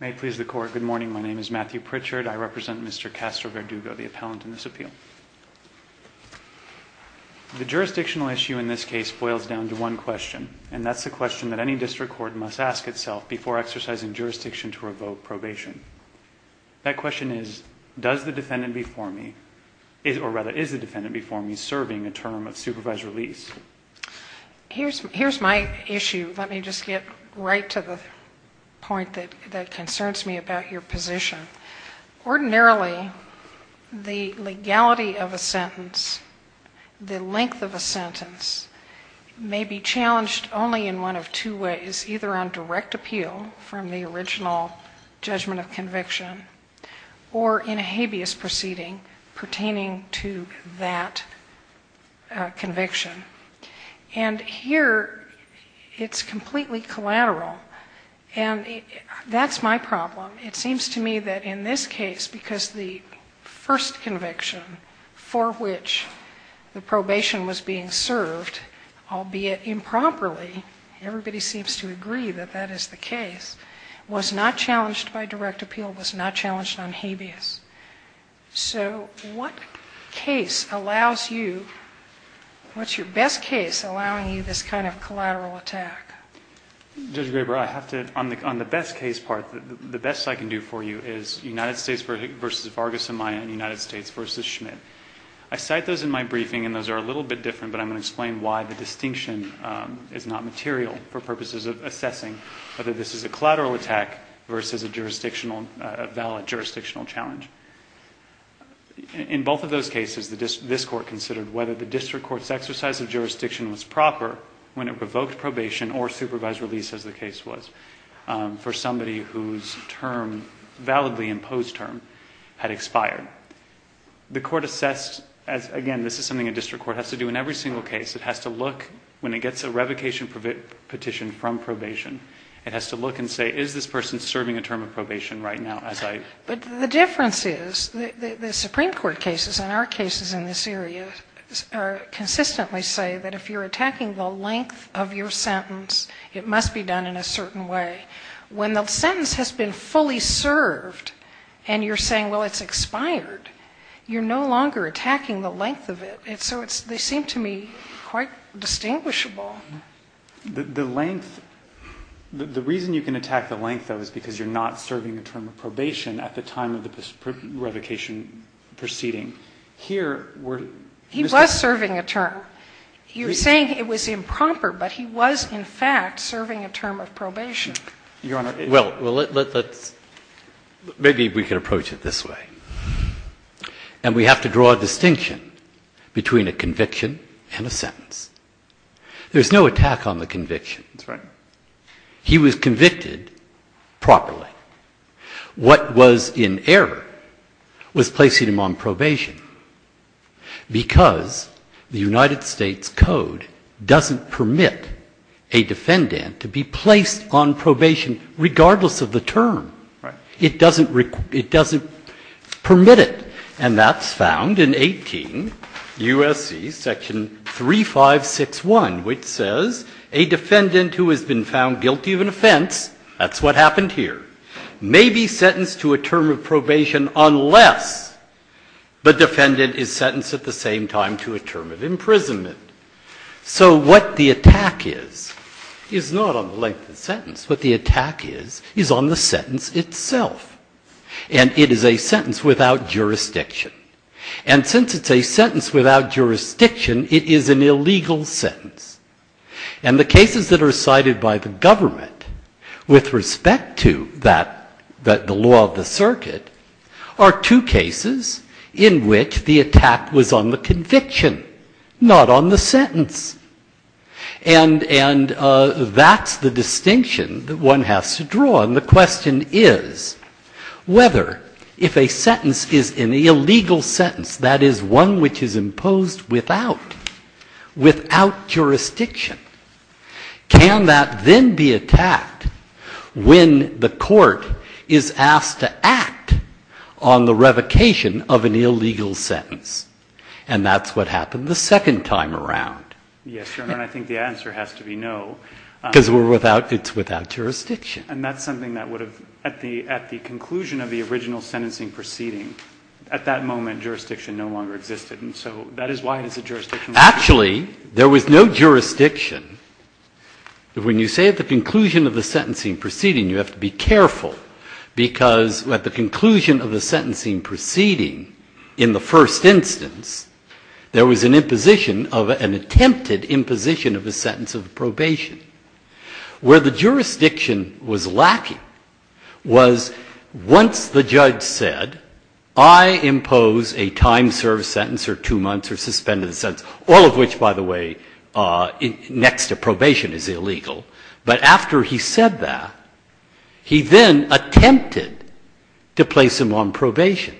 May it please the Court, good morning. My name is Matthew Pritchard. I represent Mr. Castro-Verdugo, the appellant in this appeal. The jurisdictional issue in this case boils down to one question, and that's the question that any district court must ask itself before exercising jurisdiction to revoke probation. That question is, does the defendant before me, or rather, is the defendant before me serving a term of supervised release? Here's my issue. Let me just get right to the point that concerns me about your position. Ordinarily, the legality of a sentence, the length of a sentence, may be challenged only in one of two ways, either on direct appeal from the original judgment of conviction or in a habeas proceeding pertaining to that conviction. And here, it's completely collateral, and that's my problem. It seems to me that in this case, because the first conviction for which the probation was being served, albeit improperly, everybody seems to agree that that is the case, was not challenged by direct appeal, was not challenged on habeas. So what case allows you, what's your best case allowing you this kind of collateral attack? Judge Graber, I have to, on the best case part, the best I can do for you is United States v. Vargas-Amaya and United States v. Schmidt. I cite those in my briefing, and those are a little bit different, but I'm going to explain why the distinction is not material for purposes of assessing whether this is a collateral attack versus a valid jurisdictional challenge. In both of those cases, this Court considered whether the district court's exercise of jurisdiction was proper when it provoked probation or supervised release, as the case was, for somebody whose term, validly imposed term, had expired. The Court assessed, again, this is something a district court has to do in every single case, it has to look, when it gets a revocation petition from probation, it has to look and say, is this person serving a term of probation right now? But the difference is, the Supreme Court cases and our cases in this area consistently say that if you're attacking the length of your sentence, it must be done in a certain way. When the sentence has been fully served, and you're saying, well, it's expired, you're no longer attacking the length of it. So they seem to me quite distinguishable. The reason you can attack the length, though, is because you're not serving a term of probation at the time of the revocation proceeding. Here, we're... He was serving a term. You're saying it was improper, but he was, in fact, serving a term of probation. Your Honor... Well, let's... Maybe we can approach it this way. And we have to draw a distinction between a conviction and a sentence. There's no attack on the conviction. That's right. He was convicted properly. What was in error was placing him on probation, because the United States Code doesn't permit a defendant to be placed on probation regardless of the term. Right. It doesn't permit it. And that's found in 18 U.S.C. section 3561, which says a defendant who has been found guilty of an offense, that's what happened here. May be sentenced to a term of probation unless the defendant is sentenced at the same time to a term of imprisonment. So what the attack is, is not on the length of the sentence. What the attack is, is on the sentence itself. And it is a sentence without jurisdiction. And since it's a sentence without jurisdiction, it is an illegal sentence. And the cases that are cited by the government with respect to the law of the circuit are two cases in which the attack was on the conviction, not on the sentence. And that's the distinction that one has to draw. And the question is whether if a sentence is an illegal sentence, that is one which is imposed without, without jurisdiction, can that then be attacked when the court is asked to act on the revocation of an illegal sentence? And that's what happened the second time around. Yes, Your Honor, and I think the answer has to be no. Because we're without, it's without jurisdiction. And that's something that would have, at the, at the conclusion of the original sentencing proceeding, at that moment, jurisdiction no longer existed. And so that is why it's a jurisdiction. Actually, there was no jurisdiction. When you say at the conclusion of the sentencing proceeding, you have to be careful, because at the conclusion of the sentencing proceeding, in the first instance, there was an imposition of, an attempted imposition of a sentence of probation. Where the jurisdiction was lacking was once the judge said, I impose a time-served sentence or two months or suspended sentence, all of which, by the way, next to probation is illegal. But after he said that, he then attempted to place him on probation.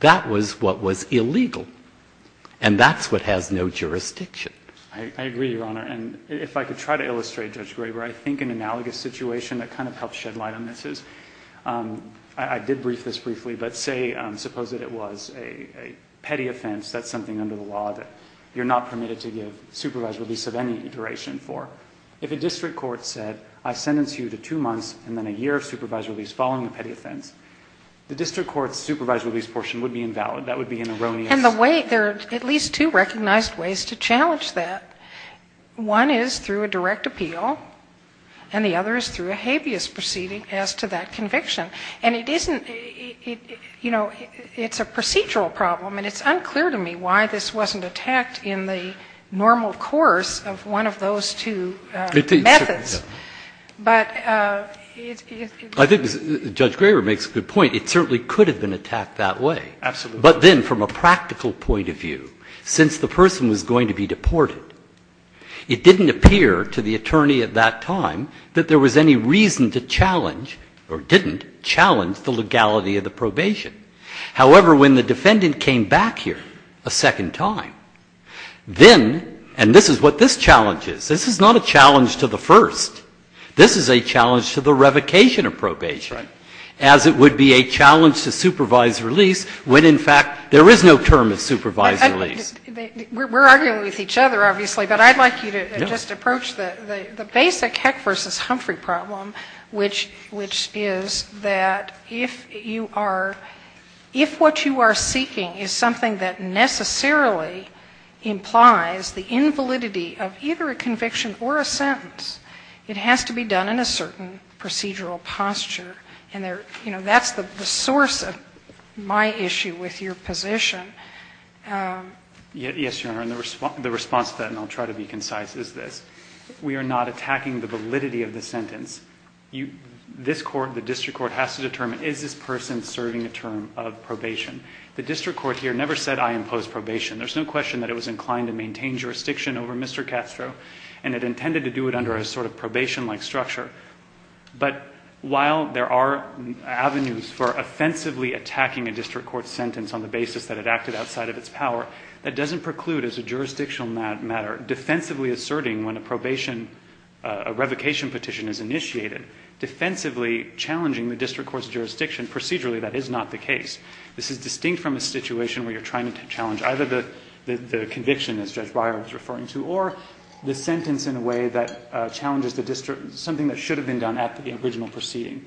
That was what was illegal. And that's what has no jurisdiction. I agree, Your Honor. And if I could try to illustrate, Judge Graber, I think an analogous situation that kind of helps shed light on this is, I did brief this briefly, but say, suppose that it was a petty offense, that's something under the law that you're not permitted to give supervised release of any duration for. If a district court said, I sentence you to two months and then a year of supervised release following the petty offense, the district court's supervised release portion would be invalid. That would be an erroneous sentence. And the way, there are at least two recognized ways to challenge that. One is through a direct appeal, and the other is through a habeas proceeding as to that conviction. And it isn't, you know, it's a procedural problem, and it's unclear to me why this wasn't attacked in the normal course of one of those two methods. But it's... I think Judge Graber makes a good point. It certainly could have been attacked that way. Absolutely. But then from a practical point of view, since the person was going to be deported, it didn't appear to the attorney at that time that there was any reason to challenge, or didn't challenge, the legality of the probation. However, when the defendant came back here a second time, then, and this is what this challenge is, this is not a challenge to the first. This is a challenge to the revocation of probation. Right. As it would be a challenge to supervised release when, in fact, there is no term of supervised release. We're arguing with each other, obviously, but I'd like you to just approach the basic Heck v. Humphrey problem, which is that if you are, if what you are seeking is something that necessarily implies the invalidity of either a conviction or a sentence, it has to be done in a certain procedural posture. And that's the source of my issue with your position. Yes, Your Honor, and the response to that, and I'll try to be concise, is this. We are not attacking the validity of the sentence. This Court, the district court, has to determine is this person serving a term of probation. The district court here never said I impose probation. There's no question that it was inclined to maintain jurisdiction over Mr. Castro, and it intended to do it under a sort of probation-like structure. But while there are avenues for offensively attacking a district court sentence on the basis that it acted outside of its power, that doesn't preclude, as a jurisdictional matter, defensively asserting when a probation, a revocation petition is initiated. Defensively challenging the district court's jurisdiction procedurally, that is not the case. This is distinct from a situation where you're trying to challenge either the conviction, as Judge Breyer was referring to, or the sentence in a way that challenges something that should have been done at the original proceeding.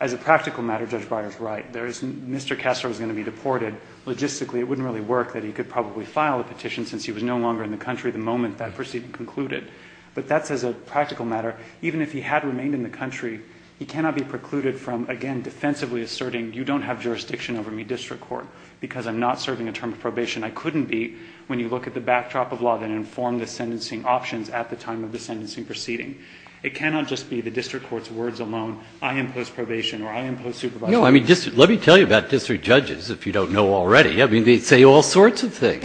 As a practical matter, Judge Breyer is right. Mr. Castro is going to be deported. Logistically, it wouldn't really work that he could probably file a petition since he was no longer in the country the moment that proceeding concluded. But that's as a practical matter. Even if he had remained in the country, he cannot be precluded from, again, defensively asserting, you don't have jurisdiction over me, district court, because I'm not serving a term of probation. I couldn't be when you look at the backdrop of law that informed the sentencing options at the time of the sentencing proceeding. It cannot just be the district court's words alone, I impose probation or I impose supervisory. Breyer. Let me tell you about district judges, if you don't know already. I mean, they say all sorts of things.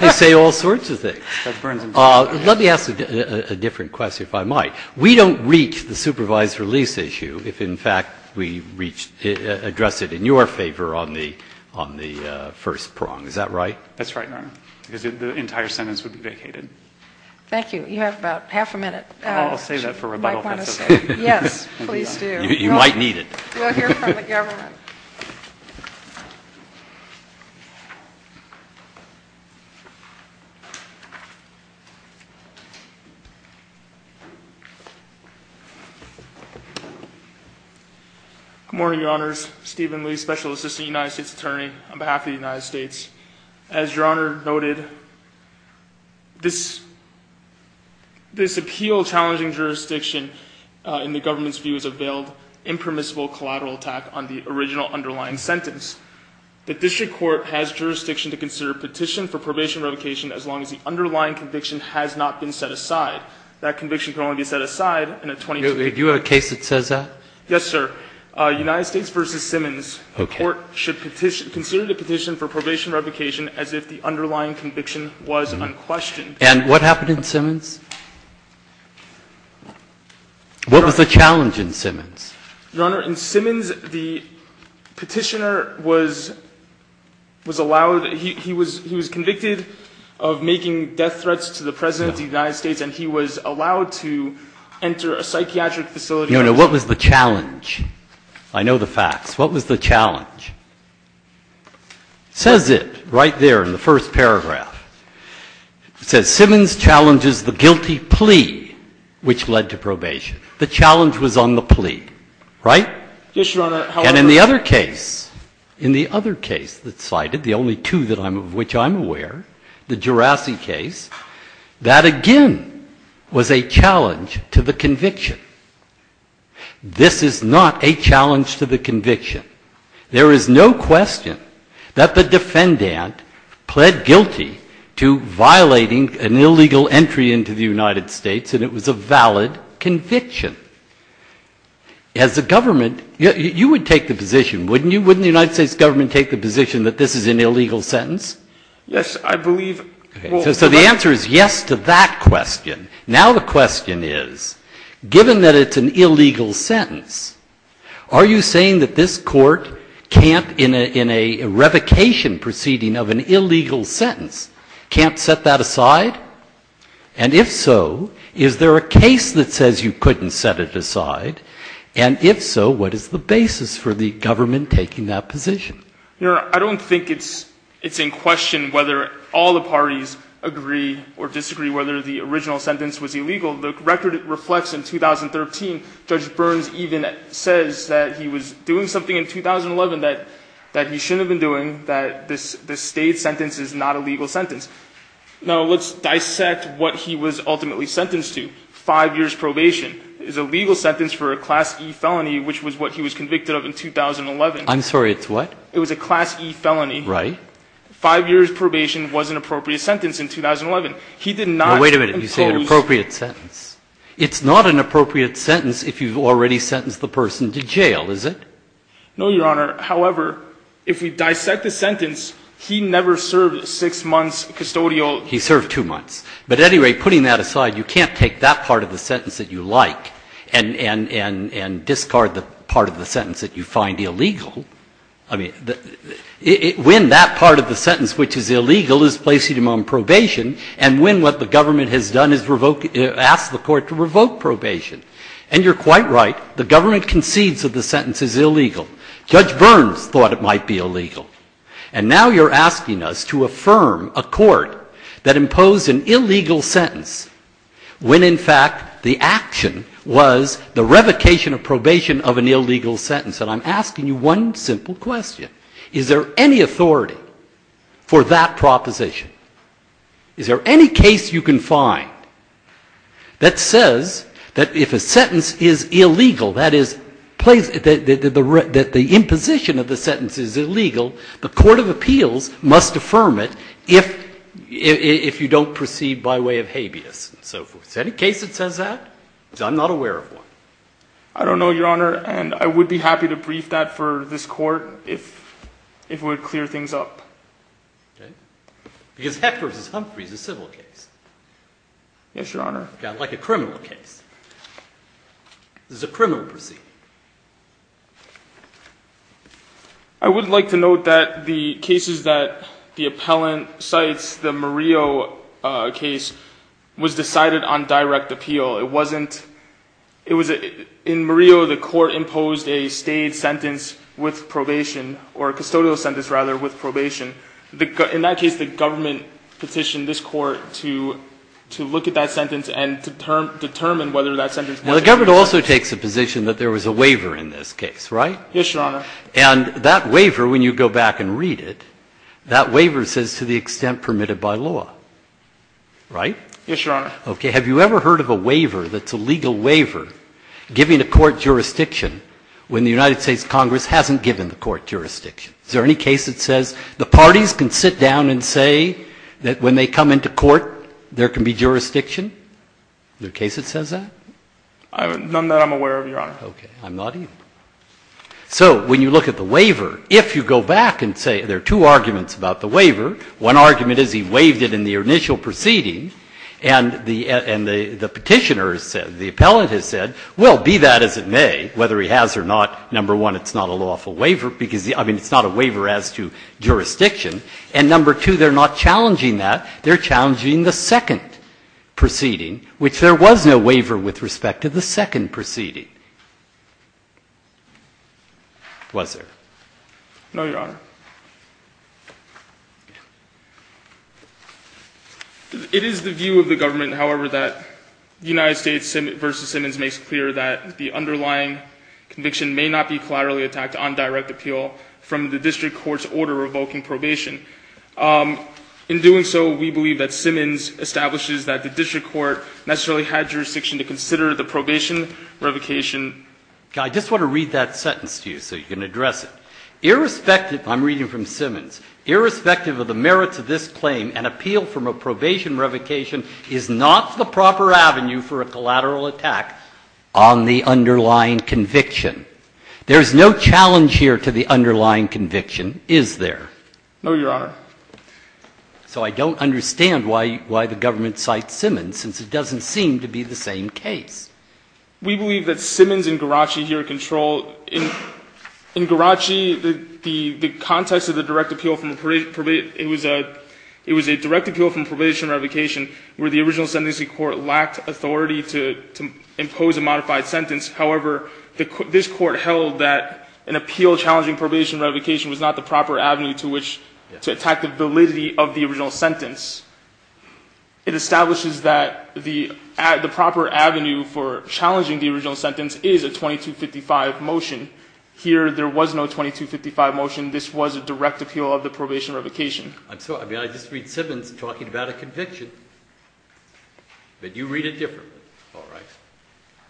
They say all sorts of things. Let me ask a different question, if I might. We don't reach the supervised release issue if, in fact, we address it in your favor on the first prong. Is that right? That's right, Your Honor, because the entire sentence would be vacated. Thank you. You have about half a minute. I'll save that for rebuttal, if that's okay. Yes, please do. You might need it. We'll hear from the government. Good morning, Your Honors. Stephen Lee, Special Assistant United States Attorney on behalf of the United States. As Your Honor noted, this appeal challenging jurisdiction in the government's view is a veiled, impermissible collateral attack on the original underlying sentence. The district court has jurisdiction to consider a petition for probation revocation as long as the underlying conviction has not been set aside. That conviction can only be set aside in a 22-year period. Do you have a case that says that? Yes, sir. United States v. Simmons. Okay. The district court should petition, consider the petition for probation revocation as if the underlying conviction was unquestioned. And what happened in Simmons? What was the challenge in Simmons? Your Honor, in Simmons, the petitioner was allowed, he was convicted of making death threats to the President of the United States, and he was allowed to enter a psychiatric facility. No, no. What was the challenge? I know the facts. What was the challenge? It says it right there in the first paragraph. It says, Simmons challenges the guilty plea which led to probation. The challenge was on the plea, right? Yes, Your Honor. And in the other case, in the other case that's cited, the only two of which I'm aware, the Jurassic case, that again was a challenge to the conviction. This is not a challenge to the conviction. There is no question that the defendant pled guilty to violating an illegal entry into the United States, and it was a valid conviction. As a government, you would take the position, wouldn't you? Wouldn't the United States government take the position that this is an illegal sentence? Yes, I believe. So the answer is yes to that question. Now the question is, given that it's an illegal sentence, are you saying that this court can't, in a revocation proceeding of an illegal sentence, can't set that aside? And if so, is there a case that says you couldn't set it aside? And if so, what is the basis for the government taking that position? Your Honor, I don't think it's in question whether all the parties agree or disagree whether the original sentence was illegal. The record reflects in 2013, Judge Burns even says that he was doing something in 2011 that he shouldn't have been doing, that this State sentence is not a legal sentence. Now let's dissect what he was ultimately sentenced to. Five years probation is a legal sentence for a Class E felony, which was what he was convicted of in 2011. I'm sorry, it's what? It was a Class E felony. Right. Five years probation was an appropriate sentence in 2011. He did not impose... Now wait a minute. You say an appropriate sentence. It's not an appropriate sentence if you've already sentenced the person to jail, is it? No, Your Honor. However, if we dissect the sentence, he never served six months custodial... He served two months. But at any rate, putting that aside, you can't take that part of the sentence that you like and discard the part of the sentence that you find illegal. I mean, when that part of the sentence which is illegal is placing him on probation and when what the government has done is ask the court to revoke probation. And you're quite right. The government concedes that the sentence is illegal. Judge Burns thought it might be illegal. And now you're asking us to affirm a court that imposed an illegal sentence when, in fact, the action was the revocation of probation of an illegal sentence. And I'm asking you one simple question. Is there any authority for that proposition? Is there any case you can find that says that if a sentence is illegal, that the imposition of the sentence is illegal, the court of appeals must affirm it if you don't proceed by way of habeas and so forth? Is there any case that says that? Because I'm not aware of one. I don't know, Your Honor, and I would be happy to brief that for this court if it would clear things up. Because Heck v. Humphrey is a civil case. Yes, Your Honor. Like a criminal case. This is a criminal proceeding. I would like to note that the cases that the appellant cites, the Murillo case, was decided on direct appeal. In Murillo, the court imposed a state sentence with probation, or a custodial sentence, rather, with probation. In that case, the government petitioned this court to look at that sentence and determine whether that sentence was illegal. Well, the government also takes a position that there was a waiver in this case, right? Yes, Your Honor. And that waiver, when you go back and read it, that waiver says to the extent permitted by law, right? Yes, Your Honor. Okay. Have you ever heard of a waiver that's a legal waiver giving a court jurisdiction when the United States Congress hasn't given the court jurisdiction? Is there any case that says the parties can sit down and say that when they come into court, there can be jurisdiction? Is there a case that says that? None that I'm aware of, Your Honor. Okay. I'm not either. So when you look at the waiver, if you go back and say there are two arguments about the waiver, one argument is he waived it in the initial proceeding, and the petitioner has said, the appellant has said, well, be that as it may, whether he has or not, number one, it's not a lawful waiver, because, I mean, it's not a waiver as to jurisdiction. And number two, they're not challenging that. They're challenging the second proceeding, which there was no waiver with respect Was there? No, Your Honor. It is the view of the government, however, that United States v. Simmons makes clear that the underlying conviction may not be collaterally attacked on direct appeal from the district court's order revoking probation. In doing so, we believe that Simmons establishes that the district court necessarily had jurisdiction to consider the probation revocation. Okay. I just want to read that sentence to you so you can address it. Irrespective, I'm reading from Simmons, irrespective of the merits of this claim, an appeal from a probation revocation is not the proper avenue for a collateral attack on the underlying conviction. There is no challenge here to the underlying conviction, is there? No, Your Honor. So I don't understand why the government cites Simmons, since it doesn't seem to be the same case. We believe that Simmons and Garaci here control, in Garaci, the context of the direct appeal from the probation, it was a direct appeal from probation revocation where the original sentencing court lacked authority to impose a modified sentence. However, this court held that an appeal challenging probation revocation was not the proper avenue to attack the validity of the original sentence. It establishes that the proper avenue for challenging the original sentence is a 2255 motion. Here, there was no 2255 motion. This was a direct appeal of the probation revocation. I'm sorry. I mean, I just read Simmons talking about a conviction. But you read it differently. All right.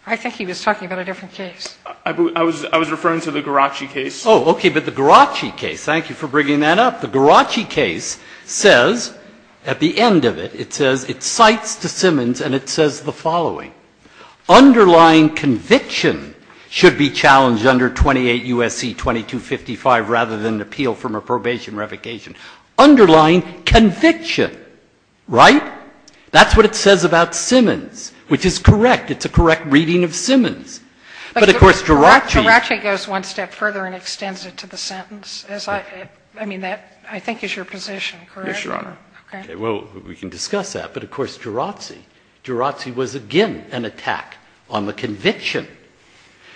I think he was talking about a different case. I was referring to the Garaci case. Oh, okay. But the Garaci case, thank you for bringing that up. The Garaci case says, at the end of it, it says, it cites to Simmons and it says the following. Underlying conviction should be challenged under 28 U.S.C. 2255 rather than an appeal from a probation revocation. Underlying conviction. Right? That's what it says about Simmons, which is correct. It's a correct reading of Simmons. But of course, Garaci goes one step further and extends it to the sentence. I mean, that, I think, is your position, correct? Yes, Your Honor. Okay. Well, we can discuss that. But, of course, Garaci. Garaci was, again, an attack on the conviction.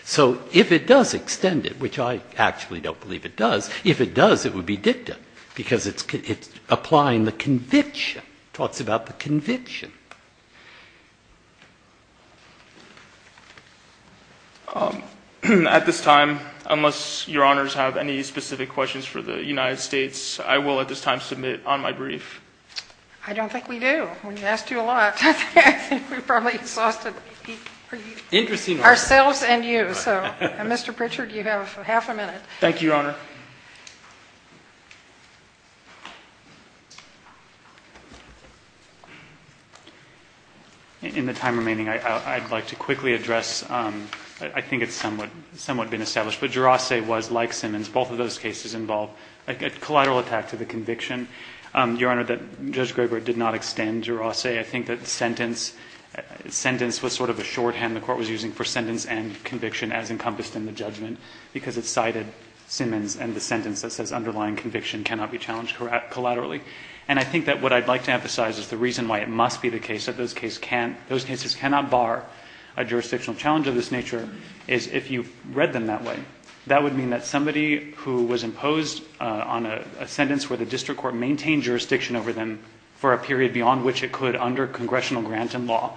So if it does extend it, which I actually don't believe it does, if it does, it would be dicta because it's applying the conviction. It talks about the conviction. At this time, unless Your Honors have any specific questions. For the United States, I will, at this time, submit on my brief. I don't think we do. We asked you a lot. I think we probably exhausted ourselves and you. So, Mr. Pritchard, you have half a minute. Thank you, Your Honor. In the time remaining, I'd like to quickly address, I think it's somewhat been established, but Garaci was, like Simmons, both of those cases involve a collateral attack to the conviction. Your Honor, Judge Gregory did not extend Garaci. I think that sentence was sort of a shorthand the Court was using for sentence and conviction as encompassed in the judgment because it cited Simmons and the sentence that says underlying conviction cannot be challenged collaterally. And I think that what I'd like to emphasize is the reason why it must be the case that those cases cannot bar a jurisdictional challenge of this nature is if you read them that way, that would mean that somebody who was imposed on a sentence where the district court maintained jurisdiction over them for a period beyond which it could under congressional grant and law,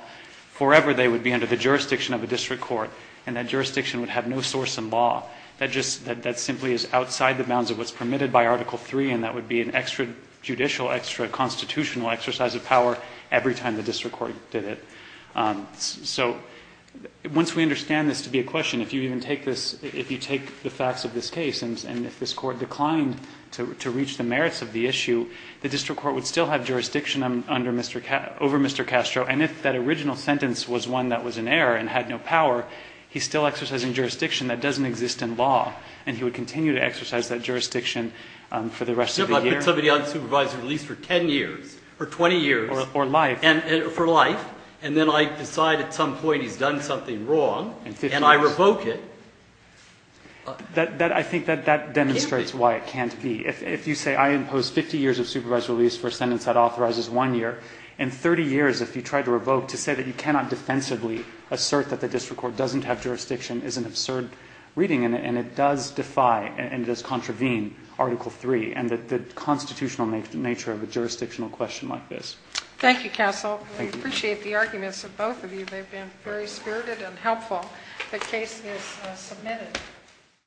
forever they would be under the jurisdiction of a district court, and that jurisdiction would have no source in law. That simply is outside the bounds of what's permitted by Article III, and that would be an extra-judicial, extra-constitutional exercise of power every time the district court did it. So once we understand this to be a question, if you even take this, if you take the facts of this case and if this Court declined to reach the merits of the issue, the district court would still have jurisdiction over Mr. Castro, and if that original sentence was one that was an error and had no power, he's still exercising jurisdiction that doesn't exist in law, and he would continue to exercise that jurisdiction for the rest of the year. I put somebody on supervised release for 10 years or 20 years. Or life. For life, and then I decide at some point he's done something wrong, and I revoke it. I think that demonstrates why it can't be. If you say I imposed 50 years of supervised release for a sentence that authorizes one year, and 30 years if you tried to revoke to say that you cannot defensively assert that the district court doesn't have jurisdiction is an absurd reading, and it does defy and it does contravene Article III, and the constitutional nature of a jurisdictional question like this. Thank you, Counsel. I appreciate the arguments of both of you. They've been very spirited and helpful. The case is submitted.